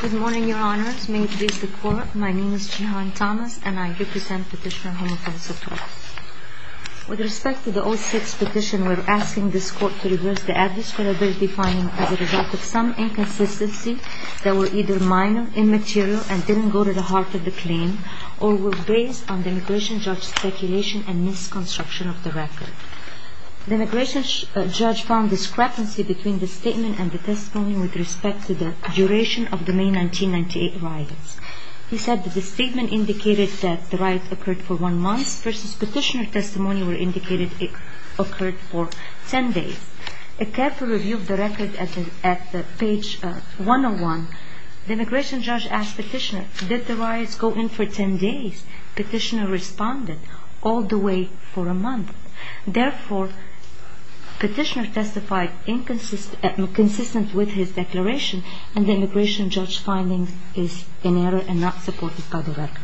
Good morning, Your Honors. May we introduce the Court. My name is Jehan Thomas, and I represent Petitioner Homophone Sitorus. With respect to the 06 petition, we are asking this Court to reverse the adverse credibility finding as a result of some inconsistency that were either minor, immaterial, and didn't go to the heart of the claim, or were based on the Immigration Judge's speculation and misconstruction of the record. The Immigration Judge found discrepancy between the statement and the testimony with respect to the duration of the May 1998 riots. He said that the statement indicated that the riots occurred for one month, versus Petitioner's testimony where it indicated it occurred for 10 days. A careful review of the record at page 101, the Immigration Judge asked Petitioner, did the riots go in for 10 days? Petitioner responded, all the way for a month. Therefore, Petitioner testified inconsistent with his declaration, and the Immigration Judge's findings is in error and not supported by the record.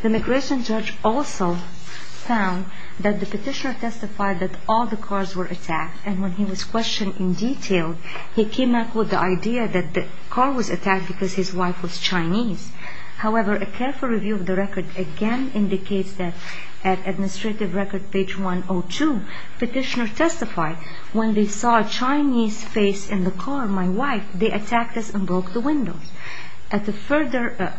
The Immigration Judge also found that the Petitioner testified that all the cars were attacked, and when he was questioned in detail, he came up with the idea that the car was attacked because his wife was Chinese. However, a careful review of the record again indicates that at Administrative Record page 102, Petitioner testified, when they saw a Chinese face in the car, my wife, they attacked us and broke the windows. At a further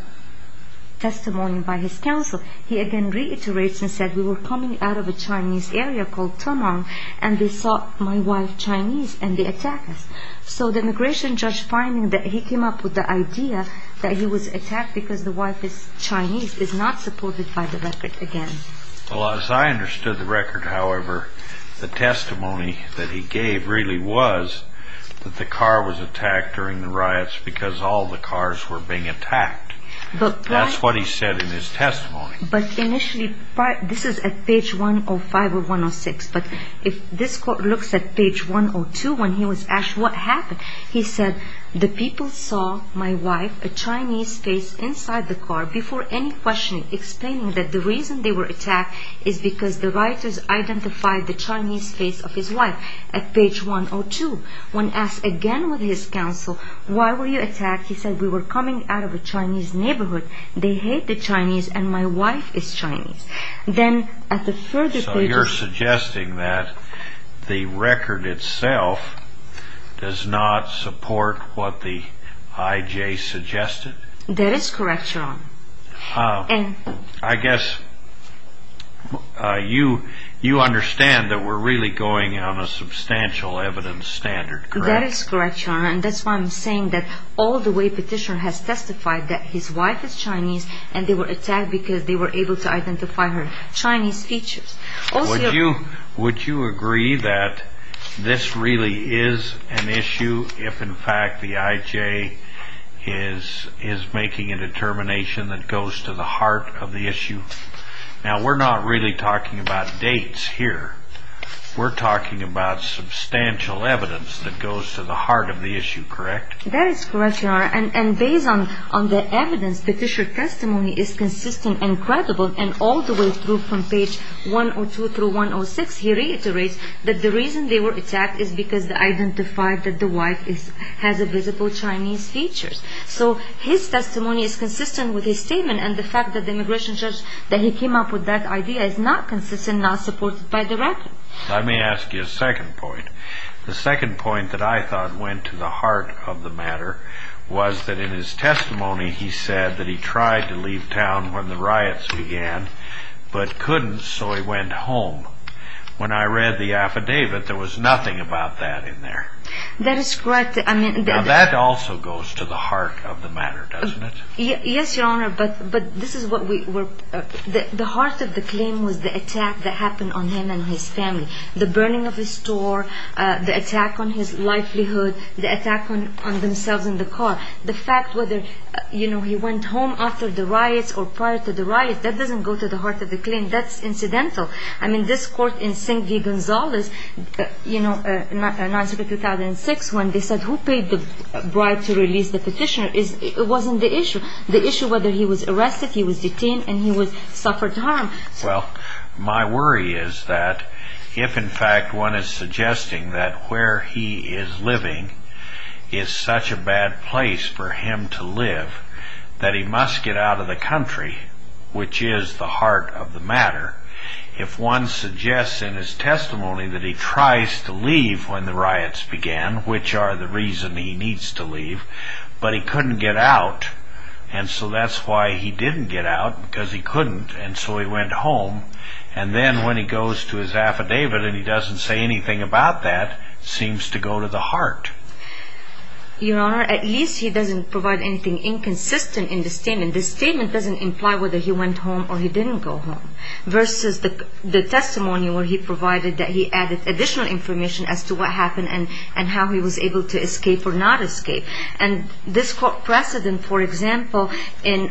testimony by his counsel, he again reiterates and said, we were coming out of a Chinese area called Tamang, and they saw my wife Chinese, and they attacked us. So the Immigration Judge finding that he came up with the idea that he was attacked because the wife is Chinese, is not supported by the record again. Well, as I understood the record, however, the testimony that he gave really was that the car was attacked during the riots because all the cars were being attacked. That's what he said in his testimony. But initially, this is at page 105 or 106, but if this quote looks at page 102 when he was asked what happened, he said, the people saw my wife, a Chinese face inside the car before any questioning, explaining that the reason they were attacked is because the rioters identified the Chinese face of his wife. At page 102, when asked again with his counsel, why were you attacked? He said, we were coming out of a Chinese neighborhood. They hate the Chinese, and my wife is Chinese. So you're suggesting that the record itself does not support what the IJ suggested? That is correct, Your Honor. I guess you understand that we're really going on a substantial evidence standard, correct? That is correct, Your Honor, and that's why I'm saying that all the way petitioner has testified that his wife is Chinese and they were attacked because they were able to identify her Chinese features. Would you agree that this really is an issue if, in fact, the IJ is making a determination that goes to the heart of the issue? Now, we're not really talking about dates here. We're talking about substantial evidence that goes to the heart of the issue, correct? That is correct, Your Honor, and based on the evidence, the petitioner's testimony is consistent and credible, and all the way through from page 102 through 106, he reiterates that the reason they were attacked is because they identified that the wife has visible Chinese features. So his testimony is consistent with his statement, and the fact that the immigration judge, that he came up with that idea, is not consistent, not supported by the record. Let me ask you a second point. The second point that I thought went to the heart of the matter was that in his testimony, he said that he tried to leave town when the riots began but couldn't, so he went home. When I read the affidavit, there was nothing about that in there. That is correct. Now, that also goes to the heart of the matter, doesn't it? Yes, Your Honor, but the heart of the claim was the attack that happened on him and his family, the burning of his store, the attack on his livelihood, the attack on themselves in the car. The fact whether he went home after the riots or prior to the riots, that doesn't go to the heart of the claim. That's incidental. I mean, this court in San Giganzales, you know, in 1906 when they said who paid the bride to release the petitioner, it wasn't the issue. The issue was whether he was arrested, he was detained, and he suffered harm. Well, my worry is that if in fact one is suggesting that where he is living is such a bad place for him to live, that he must get out of the country, which is the heart of the matter. If one suggests in his testimony that he tries to leave when the riots began, which are the reason he needs to leave, but he couldn't get out, and so that's why he didn't get out, because he couldn't, and so he went home. And then when he goes to his affidavit and he doesn't say anything about that, it seems to go to the heart. Your Honor, at least he doesn't provide anything inconsistent in the statement. The statement doesn't imply whether he went home or he didn't go home, versus the testimony where he provided that he added additional information as to what happened and how he was able to escape or not escape. And this precedent, for example, in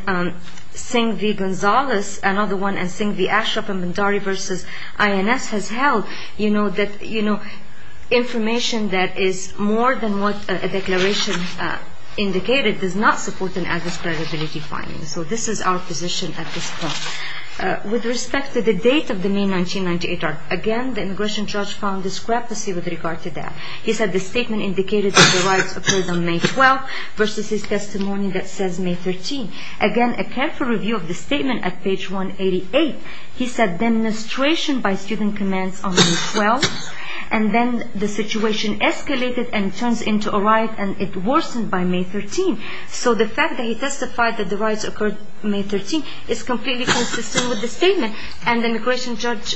Singh v. Gonzalez, another one, and Singh v. Ashraf and Bhandari v. INS has held that information that is more than what a declaration indicated does not support an adverse credibility finding. So this is our position at this point. With respect to the date of the May 1998 riot, again, the immigration judge found discrepancy with regard to that. He said the statement indicated that the riots occurred on May 12, versus his testimony that says May 13. Again, a careful review of the statement at page 188, he said demonstration by student commands on May 12, and then the situation escalated and turns into a riot and it worsened by May 13. So the fact that he testified that the riots occurred May 13 is completely consistent with the statement and the immigration judge's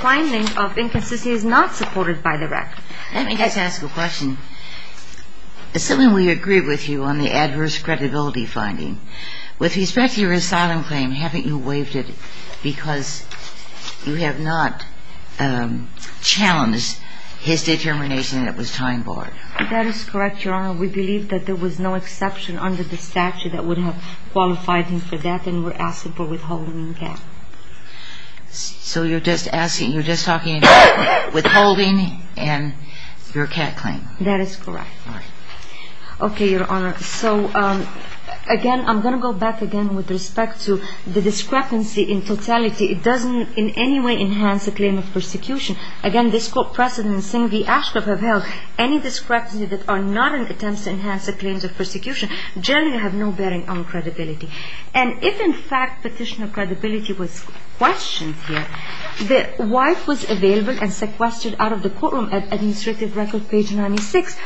finding of inconsistency is not supported by the record. Let me just ask a question. Assuming we agree with you on the adverse credibility finding, with respect to your asylum claim, haven't you waived it because you have not challenged his determination that it was time-borne? That is correct, Your Honor. We believe that there was no exception under the statute that would have qualified him for that, and we're asking for withholding and cap. So you're just asking, you're just talking about withholding and your cap claim? That is correct. All right. Okay, Your Honor. So, again, I'm going to go back again with respect to the discrepancy in totality. It doesn't in any way enhance the claim of persecution. Again, this Court precedent in Singh v. Ashcroft have held any discrepancy that are not in attempts to enhance the claims of persecution generally have no bearing on credibility. And if, in fact, petition of credibility was questioned here, the wife was available and sequestered out of the courtroom at administrative record page 96.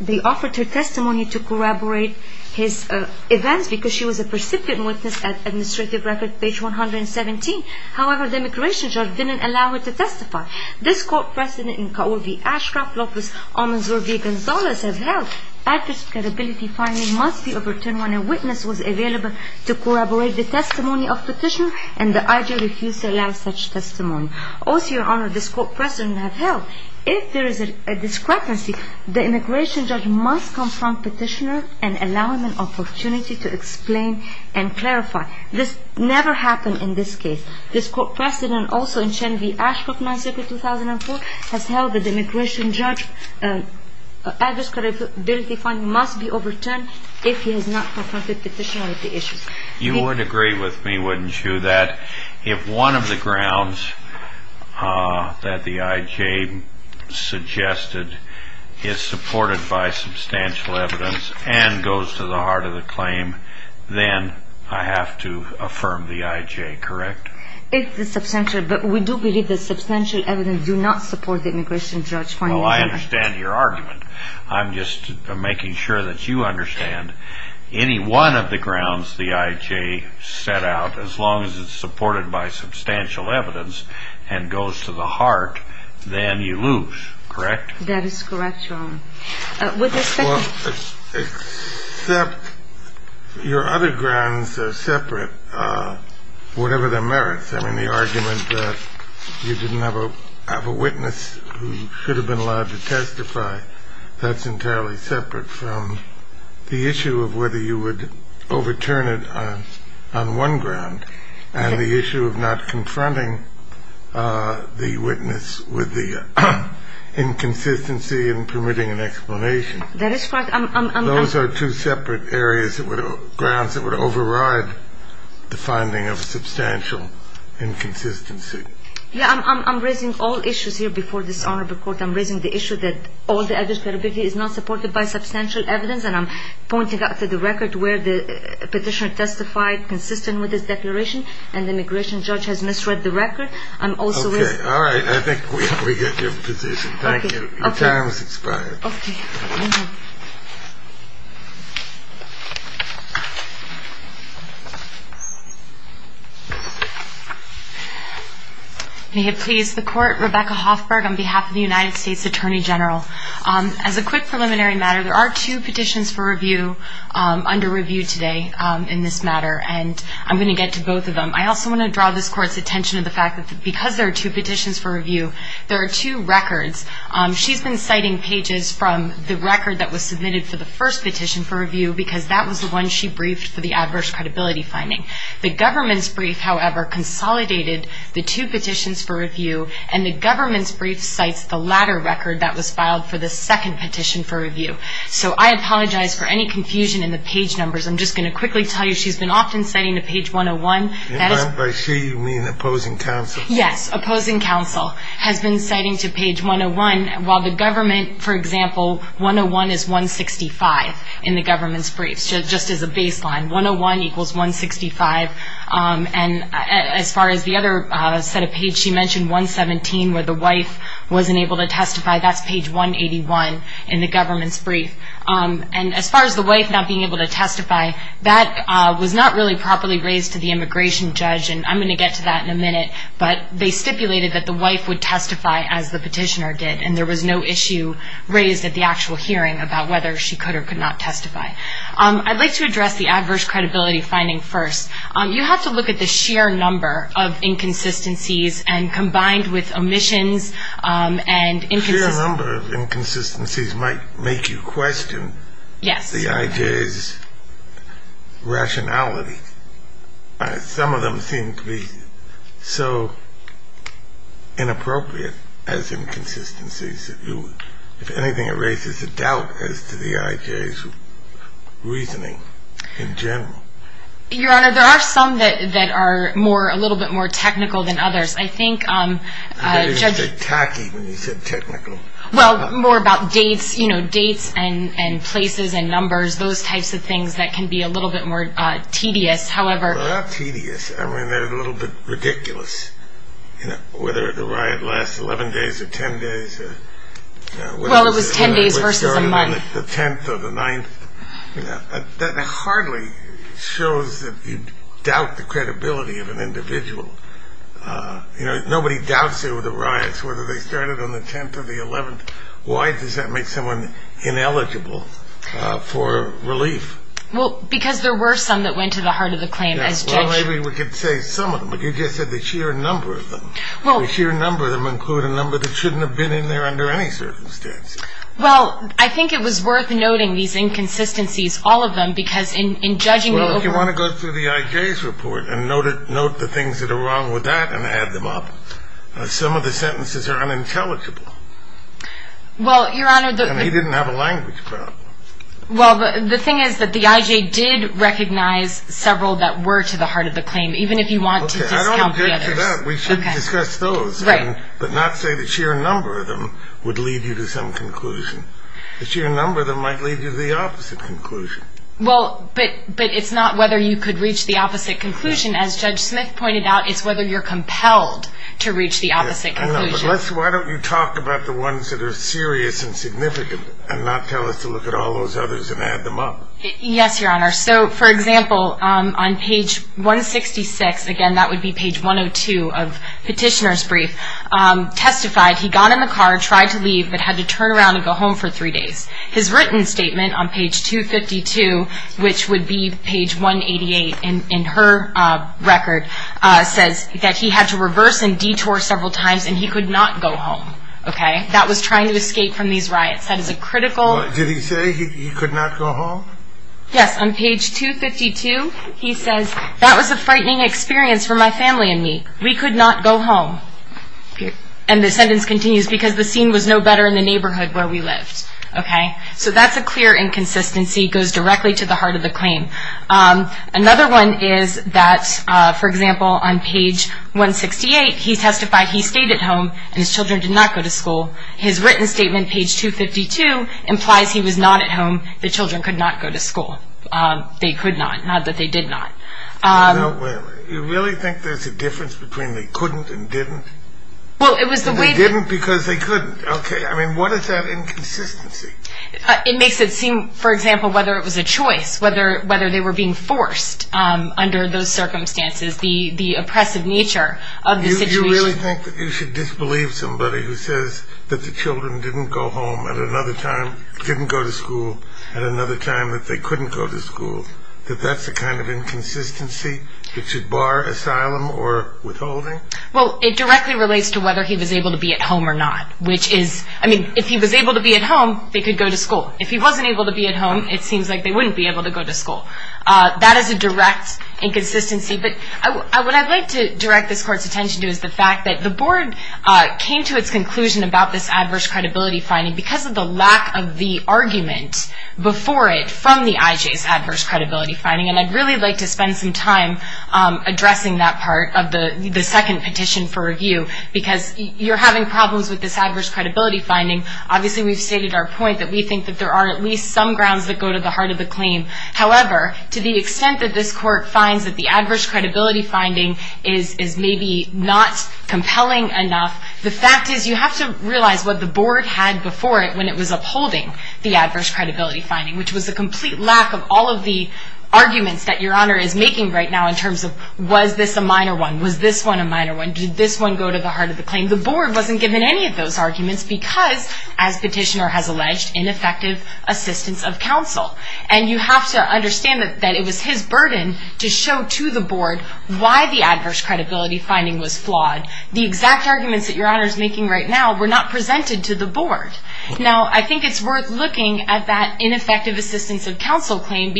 They offered her testimony to corroborate his events because she was a percipient witness at administrative record page 117. However, the immigration judge didn't allow her to testify. This Court precedent in Kaul v. Ashcroft, Lopez, Almanzor v. Gonzalez have held that this credibility finding must be overturned when a witness was available to corroborate the testimony of petitioner and the IG refused to allow such testimony. Also, Your Honor, this Court precedent have held if there is a discrepancy, the immigration judge must confront petitioner and allow him an opportunity to explain and clarify. This never happened in this case. This Court precedent also in Singh v. Ashcroft, Montsevique, 2004, has held that the immigration judge's adverse credibility finding must be overturned if he has not confronted petitioner with the issue. You would agree with me, wouldn't you, that if one of the grounds that the IG suggested is supported by substantial evidence and goes to the heart of the claim, then I have to affirm the IG, correct? It is substantial, but we do believe that substantial evidence do not support the immigration judge finding. Oh, I understand your argument. I'm just making sure that you understand any one of the grounds the IG set out, as long as it's supported by substantial evidence and goes to the heart, then you lose, correct? That is correct, Your Honor. Well, except your other grounds are separate, whatever their merits. I mean, the argument that you didn't have a witness who should have been allowed to testify, that's entirely separate from the issue of whether you would overturn it on one ground and the issue of not confronting the witness with the inconsistency in permitting an explanation. That is correct. Those are two separate areas, grounds that would override the finding of substantial inconsistency. Yeah, I'm raising all issues here before this honorable court. I'm raising the issue that all the adverse credibility is not supported by substantial evidence, and I'm pointing out to the record where the petitioner testified consistent with his declaration, and the immigration judge has misread the record. Okay, all right. I think we get your position. Thank you. Your time has expired. Okay. May it please the Court, Rebecca Hoffberg on behalf of the United States Attorney General. As a quick preliminary matter, there are two petitions for review under review today in this matter, and I'm going to get to both of them. I also want to draw this Court's attention to the fact that because there are two petitions for review, there are two records. She's been citing pages from the record that was submitted for the first petition for review because that was the one she briefed for the adverse credibility finding. The government's brief, however, consolidated the two petitions for review, and the government's brief cites the latter record that was filed for the second petition for review. So I apologize for any confusion in the page numbers. I'm just going to quickly tell you she's been often citing the page 101. By she, you mean opposing counsel? Yes, opposing counsel has been citing to page 101, while the government, for example, 101 is 165 in the government's brief, just as a baseline. 101 equals 165. And as far as the other set of pages, she mentioned 117, where the wife wasn't able to testify. That's page 181 in the government's brief. And as far as the wife not being able to testify, that was not really properly raised to the immigration judge, and I'm going to get to that in a minute. But they stipulated that the wife would testify as the petitioner did, and there was no issue raised at the actual hearing about whether she could or could not testify. I'd like to address the adverse credibility finding first. You have to look at the sheer number of inconsistencies, and combined with omissions and inconsistencies. The sheer number of inconsistencies might make you question the IJ's rationality. Some of them seem to be so inappropriate as inconsistencies. If anything, it raises a doubt as to the IJ's reasoning in general. Your Honor, there are some that are a little bit more technical than others. I think judge – I thought you said tacky when you said technical. Well, more about dates, you know, dates and places and numbers, those types of things that can be a little bit more tedious, however – They're not tedious. I mean, they're a little bit ridiculous. Whether the riot lasts 11 days or 10 days – Well, it was 10 days versus a month. The 10th or the 9th. That hardly shows that you doubt the credibility of an individual. Nobody doubts it with the riots, whether they started on the 10th or the 11th. Why does that make someone ineligible for relief? Well, because there were some that went to the heart of the claim as judge – Well, maybe we could say some of them, but you just said the sheer number of them. The sheer number of them include a number that shouldn't have been in there under any circumstances. Well, I think it was worth noting these inconsistencies, all of them, because in judging – Well, if you want to go through the IJ's report and note the things that are wrong with that and add them up, some of the sentences are unintelligible. Well, Your Honor – And he didn't have a language problem. Well, the thing is that the IJ did recognize several that were to the heart of the claim, even if you want to discount the others. Okay, I don't object to that. We should discuss those. Right. But not say the sheer number of them would lead you to some conclusion. The sheer number of them might lead you to the opposite conclusion. Well, but it's not whether you could reach the opposite conclusion. As Judge Smith pointed out, it's whether you're compelled to reach the opposite conclusion. But why don't you talk about the ones that are serious and significant and not tell us to look at all those others and add them up? Yes, Your Honor. So, for example, on page 166 – again, that would be page 102 of Petitioner's brief – testified he got in the car, tried to leave, but had to turn around and go home for three days. His written statement on page 252, which would be page 188 in her record, says that he had to reverse and detour several times and he could not go home. Okay? That was trying to escape from these riots. That is a critical – Did he say he could not go home? Yes. On page 252, he says, That was a frightening experience for my family and me. We could not go home. And the sentence continues, Because the scene was no better in the neighborhood where we lived. Okay? So that's a clear inconsistency. It goes directly to the heart of the claim. Another one is that, for example, on page 168, he testified he stayed at home and his children did not go to school. His written statement, page 252, implies he was not at home. The children could not go to school. They could not, not that they did not. Wait a minute. You really think there's a difference between they couldn't and didn't? Well, it was the way – They didn't because they couldn't. Okay. I mean, what is that inconsistency? It makes it seem, for example, whether it was a choice, whether they were being forced under those circumstances, the oppressive nature of the situation. You really think that you should disbelieve somebody who says that the children didn't go home at another time, didn't go to school at another time, that they couldn't go to school, that that's a kind of inconsistency that should bar asylum or withholding? Well, it directly relates to whether he was able to be at home or not, which is – I mean, if he was able to be at home, they could go to school. If he wasn't able to be at home, it seems like they wouldn't be able to go to school. That is a direct inconsistency. But what I'd like to direct this Court's attention to is the fact that the Board came to its conclusion about this adverse credibility finding because of the lack of the argument before it from the IJ's adverse credibility finding. And I'd really like to spend some time addressing that part of the second petition for review because you're having problems with this adverse credibility finding. Obviously, we've stated our point that we think that there are at least some grounds that go to the heart of the claim. However, to the extent that this Court finds that the adverse credibility finding is maybe not compelling enough, the fact is you have to realize what the Board had before it when it was upholding the adverse credibility finding, which was a complete lack of all of the arguments that Your Honor is making right now in terms of was this a minor one, was this one a minor one, did this one go to the heart of the claim. The Board wasn't given any of those arguments because, as Petitioner has alleged, ineffective assistance of counsel. And you have to understand that it was his burden to show to the Board why the adverse credibility finding was flawed. The exact arguments that Your Honor is making right now were not presented to the Board. Now, I think it's worth looking at that ineffective assistance of counsel claim or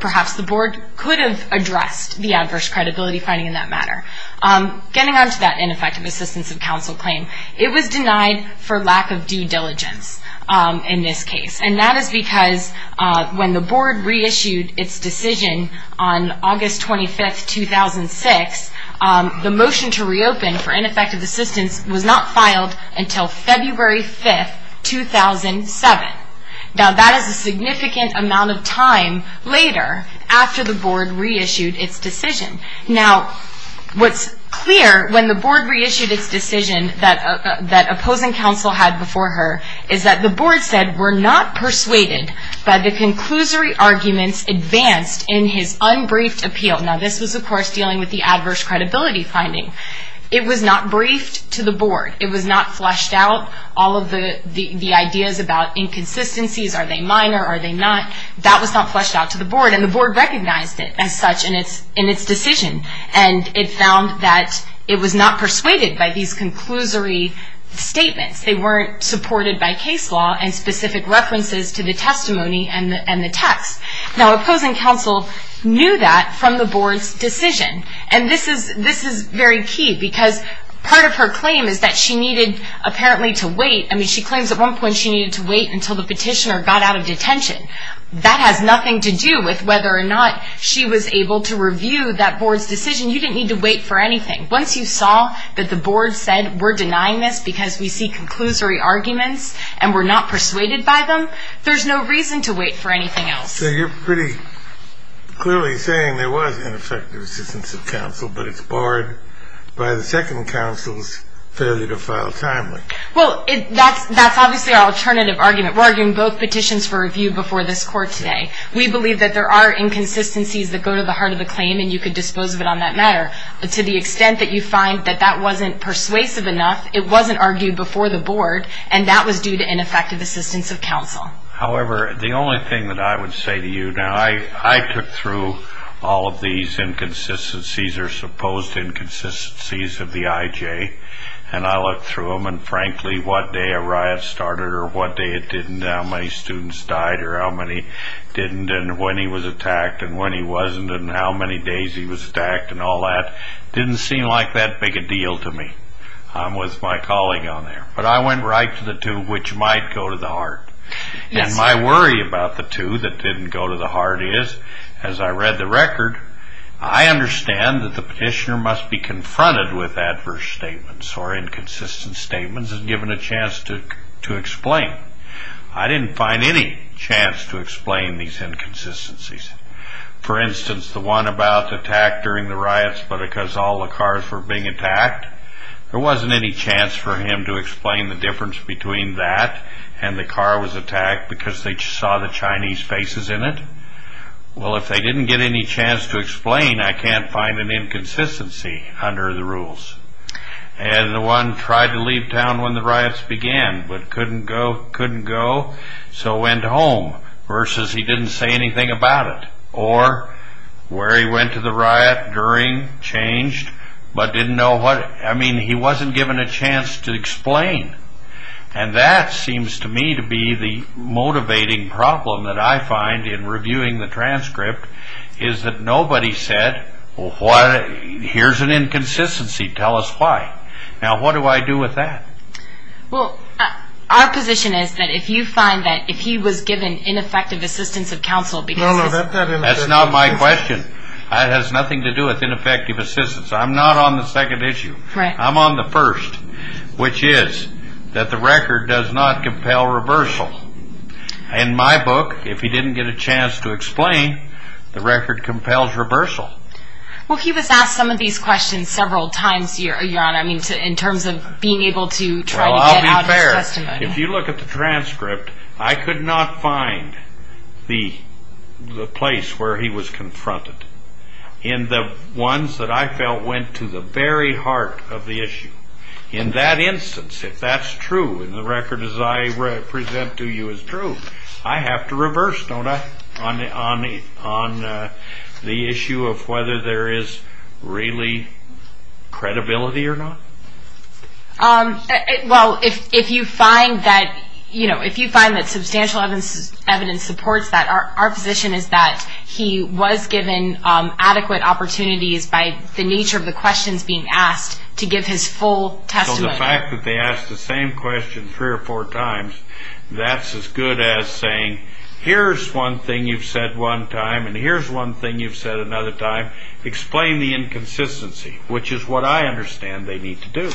perhaps the Board could have addressed the adverse credibility finding in that matter. Getting on to that ineffective assistance of counsel claim, it was denied for lack of due diligence in this case. And that is because when the Board reissued its decision on August 25, 2006, the motion to reopen for ineffective assistance was not filed until February 5, 2007. Now, that is a significant amount of time later after the Board reissued its decision. Now, what's clear when the Board reissued its decision that opposing counsel had before her is that the Board said we're not persuaded by the conclusory arguments advanced in his unbriefed appeal. Now, this was, of course, dealing with the adverse credibility finding. It was not briefed to the Board. It was not fleshed out. All of the ideas about inconsistencies, are they minor, are they not, that was not fleshed out to the Board and the Board recognized it as such in its decision. And it found that it was not persuaded by these conclusory statements. They weren't supported by case law and specific references to the testimony and the text. Now, opposing counsel knew that from the Board's decision. And this is very key because part of her claim is that she needed apparently to wait. I mean, she claims at one point she needed to wait until the petitioner got out of detention. That has nothing to do with whether or not she was able to review that Board's decision. You didn't need to wait for anything. Once you saw that the Board said we're denying this because we see conclusory arguments and we're not persuaded by them, there's no reason to wait for anything else. So you're pretty clearly saying there was ineffective assistance of counsel, but it's barred by the second counsel's failure to file timely. Well, that's obviously our alternative argument. We're arguing both petitions for review before this Court today. We believe that there are inconsistencies that go to the heart of the claim and you could dispose of it on that matter. To the extent that you find that that wasn't persuasive enough, it wasn't argued before the Board and that was due to ineffective assistance of counsel. However, the only thing that I would say to you now, I took through all of these inconsistencies or supposed inconsistencies of the IJ and I looked through them and, frankly, what day a riot started or what day it didn't, how many students died or how many didn't and when he was attacked and when he wasn't and how many days he was attacked and all that didn't seem like that big a deal to me. I'm with my colleague on there. But I went right to the two which might go to the heart. And my worry about the two that didn't go to the heart is, as I read the record, I understand that the petitioner must be confronted with adverse statements or inconsistent statements and given a chance to explain. I didn't find any chance to explain these inconsistencies. But because all the cars were being attacked, there wasn't any chance for him to explain the difference between that and the car was attacked because they saw the Chinese faces in it. Well, if they didn't get any chance to explain, I can't find an inconsistency under the rules. And the one tried to leave town when the riots began but couldn't go, so went home versus he didn't say anything about it or where he went to the riot during, changed, but didn't know what. I mean, he wasn't given a chance to explain. And that seems to me to be the motivating problem that I find in reviewing the transcript is that nobody said, here's an inconsistency, tell us why. Now, what do I do with that? Well, our position is that if you find that if he was given ineffective assistance of counsel That's not my question. It has nothing to do with ineffective assistance. I'm not on the second issue. I'm on the first, which is that the record does not compel reversal. In my book, if he didn't get a chance to explain, the record compels reversal. Well, he was asked some of these questions several times, Your Honor, in terms of being able to try to get out his testimony. If you look at the transcript, I could not find the place where he was confronted. And the ones that I felt went to the very heart of the issue. In that instance, if that's true, and the record as I present to you is true, I have to reverse, don't I, on the issue of whether there is really credibility or not? Well, if you find that substantial evidence supports that, our position is that he was given adequate opportunities by the nature of the questions being asked to give his full testimony. So the fact that they asked the same question three or four times, that's as good as saying, here's one thing you've said one time, and here's one thing you've said another time. Explain the inconsistency, which is what I understand they need to do.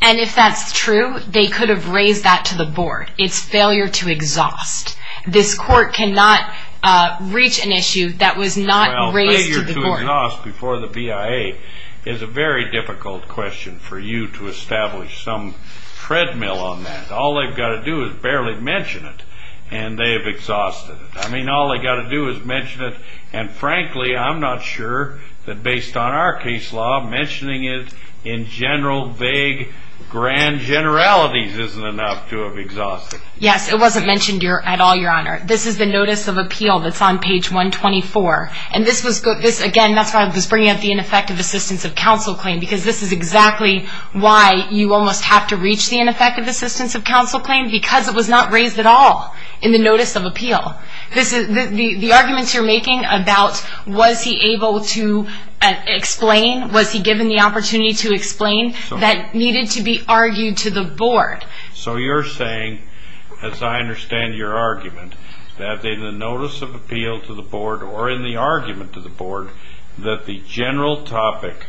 And if that's true, they could have raised that to the board. It's failure to exhaust. This court cannot reach an issue that was not raised to the board. Well, failure to exhaust before the BIA is a very difficult question for you to establish some treadmill on that. All they've got to do is barely mention it, and they've exhausted it. I mean, all they've got to do is mention it, and frankly, I'm not sure that based on our case law, mentioning it in general, vague, grand generalities isn't enough to have exhausted it. Yes, it wasn't mentioned at all, Your Honor. This is the notice of appeal that's on page 124. And this was, again, that's why I was bringing up the ineffective assistance of counsel claim, because this is exactly why you almost have to reach the ineffective assistance of counsel claim, because it was not raised at all in the notice of appeal. The arguments you're making about was he able to explain, was he given the opportunity to explain, that needed to be argued to the board. So you're saying, as I understand your argument, that in the notice of appeal to the board or in the argument to the board, that the general topic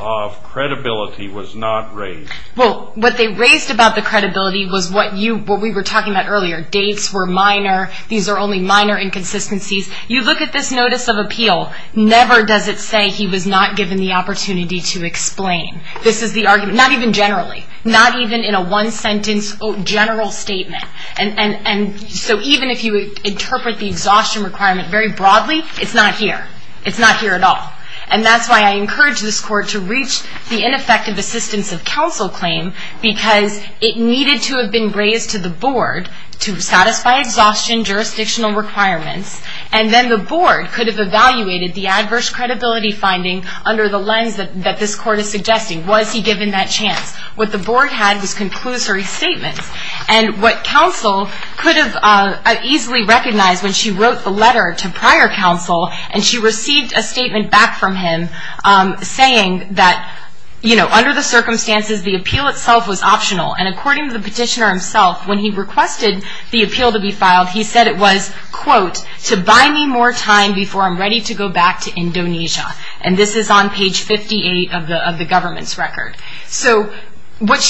of credibility was not raised. Well, what they raised about the credibility was what we were talking about earlier. Their dates were minor. These are only minor inconsistencies. You look at this notice of appeal. Never does it say he was not given the opportunity to explain. This is the argument, not even generally, not even in a one-sentence general statement. And so even if you interpret the exhaustion requirement very broadly, it's not here. It's not here at all. And that's why I encourage this Court to reach the ineffective assistance of counsel claim, because it needed to have been raised to the board to satisfy exhaustion jurisdictional requirements, and then the board could have evaluated the adverse credibility finding under the lens that this Court is suggesting. Was he given that chance? What the board had was conclusory statements. And what counsel could have easily recognized when she wrote the letter to prior counsel and she received a statement back from him saying that, you know, under the circumstances, the appeal itself was optional, and according to the petitioner himself, when he requested the appeal to be filed, he said it was, quote, to buy me more time before I'm ready to go back to Indonesia. And this is on page 58 of the government's record. So what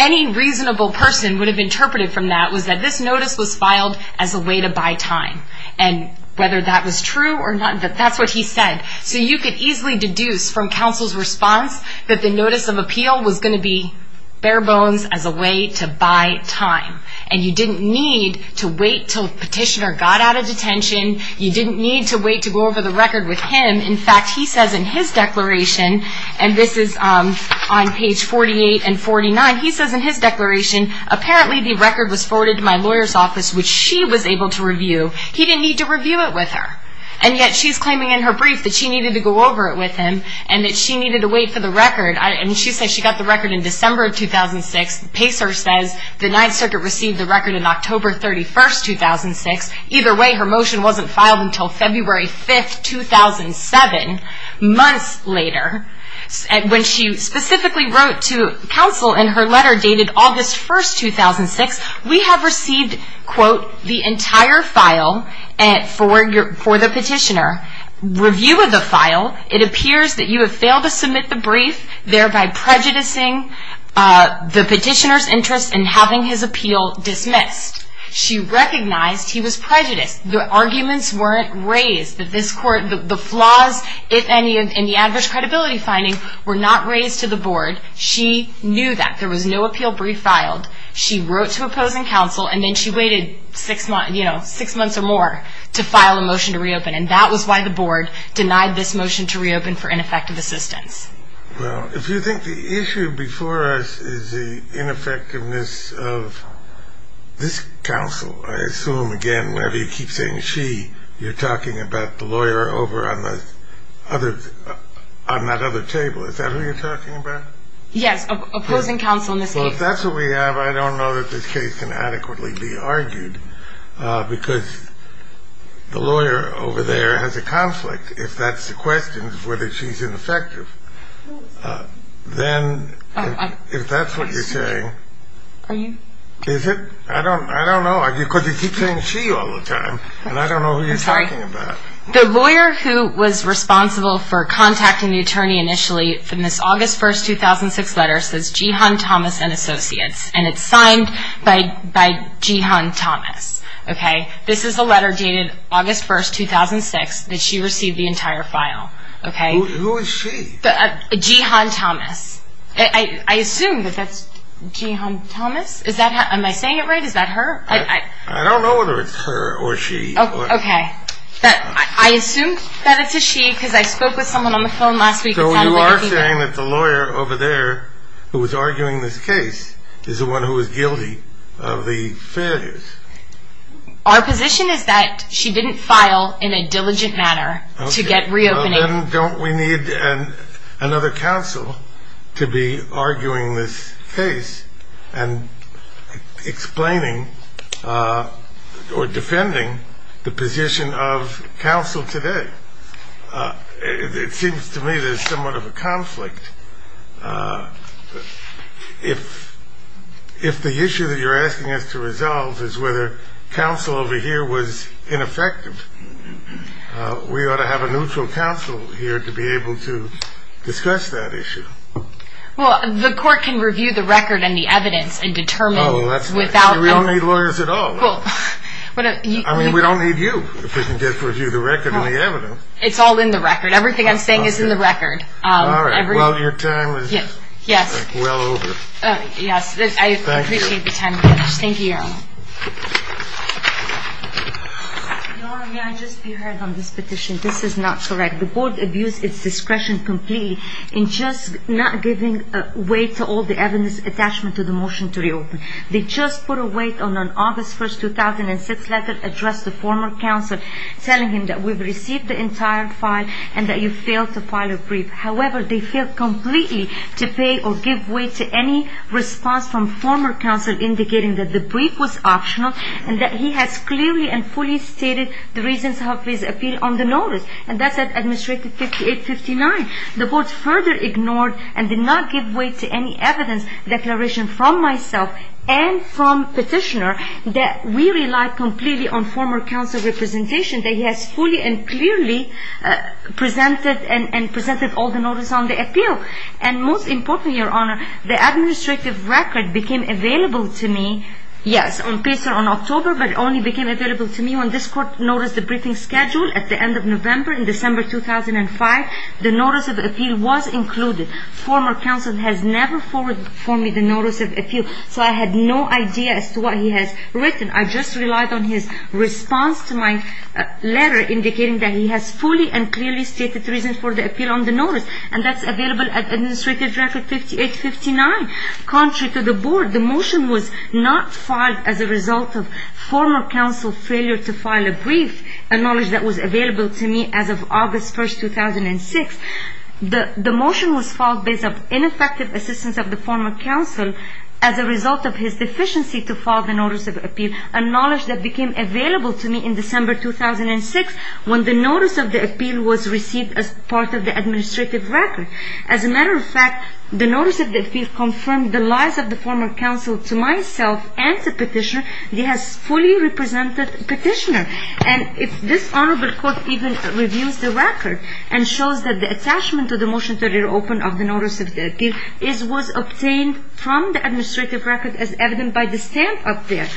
any reasonable person would have interpreted from that was that this notice was filed as a way to buy time, and whether that was true or not, that's what he said. So you could easily deduce from counsel's response that the notice of appeal was going to be bare bones as a way to buy time. And you didn't need to wait until the petitioner got out of detention. You didn't need to wait to go over the record with him. In fact, he says in his declaration, and this is on page 48 and 49, he says in his declaration, apparently the record was forwarded to my lawyer's office, which she was able to review. He didn't need to review it with her. And yet she's claiming in her brief that she needed to go over it with him and that she needed to wait for the record. And she says she got the record in December of 2006. Pacer says the Ninth Circuit received the record in October 31, 2006. Either way, her motion wasn't filed until February 5, 2007. Months later, when she specifically wrote to counsel and her letter dated August 1, 2006, we have received, quote, the entire file for the petitioner. Review of the file, it appears that you have failed to submit the brief, thereby prejudicing the petitioner's interest in having his appeal dismissed. She recognized he was prejudiced. The arguments weren't raised. The flaws, if any, in the adverse credibility finding were not raised to the board. She knew that. There was no appeal brief filed. She wrote to opposing counsel, and then she waited six months or more to file a motion to reopen. And that was why the board denied this motion to reopen for ineffective assistance. Well, if you think the issue before us is the ineffectiveness of this counsel, I assume, again, whenever you keep saying she, you're talking about the lawyer over on that other table. Is that who you're talking about? Yes, opposing counsel in this case. Well, if that's what we have, I don't know that this case can adequately be argued, because the lawyer over there has a conflict. If that's the question, whether she's ineffective, then if that's what you're saying. Are you? Is it? I don't know. Because you keep saying she all the time, and I don't know who you're talking about. I'm sorry. The lawyer who was responsible for contacting the attorney initially in this August 1, 2006 letter says Jehan Thomas and Associates, and it's signed by Jehan Thomas. Okay? This is a letter dated August 1, 2006 that she received the entire file. Okay? Who is she? Jehan Thomas. I assume that that's Jehan Thomas. Am I saying it right? Is that her? I don't know whether it's her or she. Okay. I assume that it's a she, because I spoke with someone on the phone last week. So you are saying that the lawyer over there who was arguing this case is the one who was guilty of the failures. Our position is that she didn't file in a diligent manner to get reopening. Okay. Then don't we need another counsel to be arguing this case and explaining or defending the position of counsel today? It seems to me there's somewhat of a conflict. If the issue that you're asking us to resolve is whether counsel over here was ineffective, we ought to have a neutral counsel here to be able to discuss that issue. Well, the court can review the record and the evidence and determine without them. We don't need lawyers at all. I mean, we don't need you if we can get a review of the record and the evidence. It's all in the record. Everything I'm saying is in the record. All right. Well, your time is well over. Yes. I appreciate the time. Thank you. Thank you, Your Honor. Your Honor, may I just be heard on this petition? This is not correct. The board abused its discretion completely in just not giving way to all the evidence attachment to the motion to reopen. They just put a weight on an August 1, 2006 letter addressed to former counsel telling him that we've received the entire file and that you failed to file a brief. However, they failed completely to pay or give way to any response from former counsel indicating that the brief was optional and that he has clearly and fully stated the reasons of his appeal on the notice. And that's at Administrative 58-59. The board further ignored and did not give way to any evidence declaration from myself and from petitioner that we relied completely on former counsel representation that he has fully and clearly presented and presented all the notice on the appeal. And most importantly, Your Honor, the administrative record became available to me, yes, on paper on October, but it only became available to me when this court noticed the briefing schedule at the end of November in December 2005. The notice of appeal was included. Former counsel has never forwarded for me the notice of appeal, so I had no idea as to what he has written. I just relied on his response to my letter indicating that he has fully and clearly stated the reasons for the appeal on the notice. And that's available at Administrative Record 58-59. Contrary to the board, the motion was not filed as a result of former counsel failure to file a brief, a knowledge that was available to me as of August 1, 2006. The motion was filed based on ineffective assistance of the former counsel as a result of his deficiency to file the notice of appeal, a knowledge that became available to me in December 2006 when the notice of the appeal was received as part of the administrative record. As a matter of fact, the notice of the appeal confirmed the lies of the former counsel to myself and to petitioner. He has fully represented petitioner. And this honorable court even reviews the record and shows that the attachment to the motion to reopen of the notice of the appeal was obtained from the administrative record as evident by the stamp up there.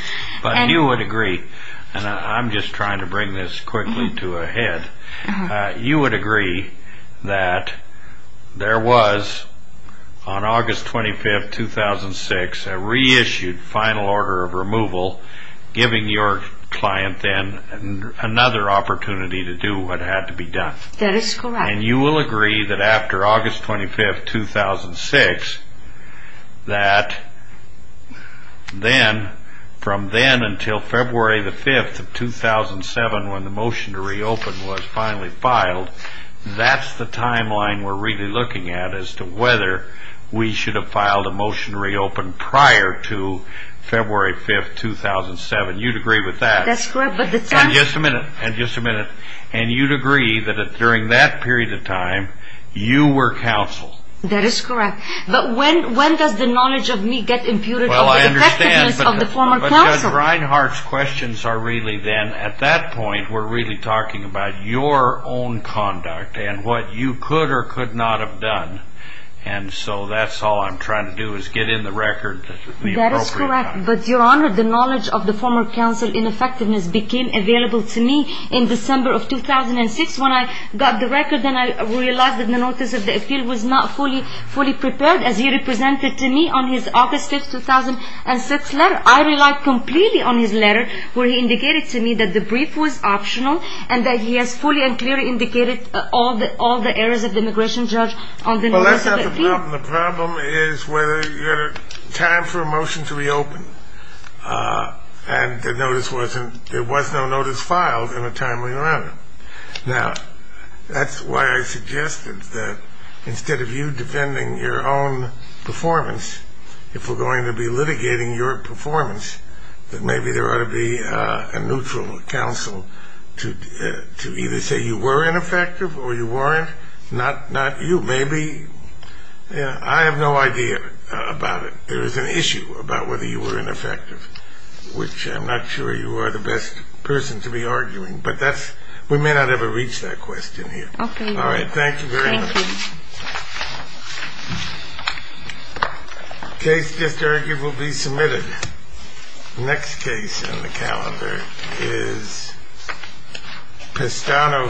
But you would agree, and I'm just trying to bring this quickly to a head. You would agree that there was, on August 25, 2006, a reissued final order of removal, giving your client then another opportunity to do what had to be done. That is correct. And you will agree that after August 25, 2006, that then, from then until February 5, 2007, when the motion to reopen was finally filed, that's the timeline we're really looking at as to whether we should have filed a motion to reopen prior to February 5, 2007. You'd agree with that. That's correct. And just a minute. And just a minute. And you'd agree that during that period of time, you were counsel. That is correct. But when does the knowledge of me get imputed over the effectiveness of the former counsel? Well, I understand. But Judge Reinhart's questions are really then, at that point, we're really talking about your own conduct and what you could or could not have done. And so that's all I'm trying to do is get in the record at the appropriate time. That is correct. But, Your Honor, the knowledge of the former counsel in effectiveness became available to me in December of 2006 when I got the record and I realized that the Notice of Appeal was not fully prepared as he represented to me on his August 5, 2006, letter. I relied completely on his letter where he indicated to me that the brief was optional and that he has fully and clearly indicated all the errors of the immigration judge on the Notice of Appeal. Well, that's not the problem. The problem is whether you had time for a motion to reopen and there was no notice filed in a timely manner. Now, that's why I suggested that instead of you defending your own performance, if we're going to be litigating your performance, that maybe there ought to be a neutral counsel to either say you were ineffective or you weren't, not you. Maybe. I have no idea about it. There is an issue about whether you were ineffective, which I'm not sure you are the best person to be arguing. But we may not ever reach that question here. All right. Thank you very much. Thank you. The case just argued will be submitted. Next case on the calendar is Pestano v. Holden.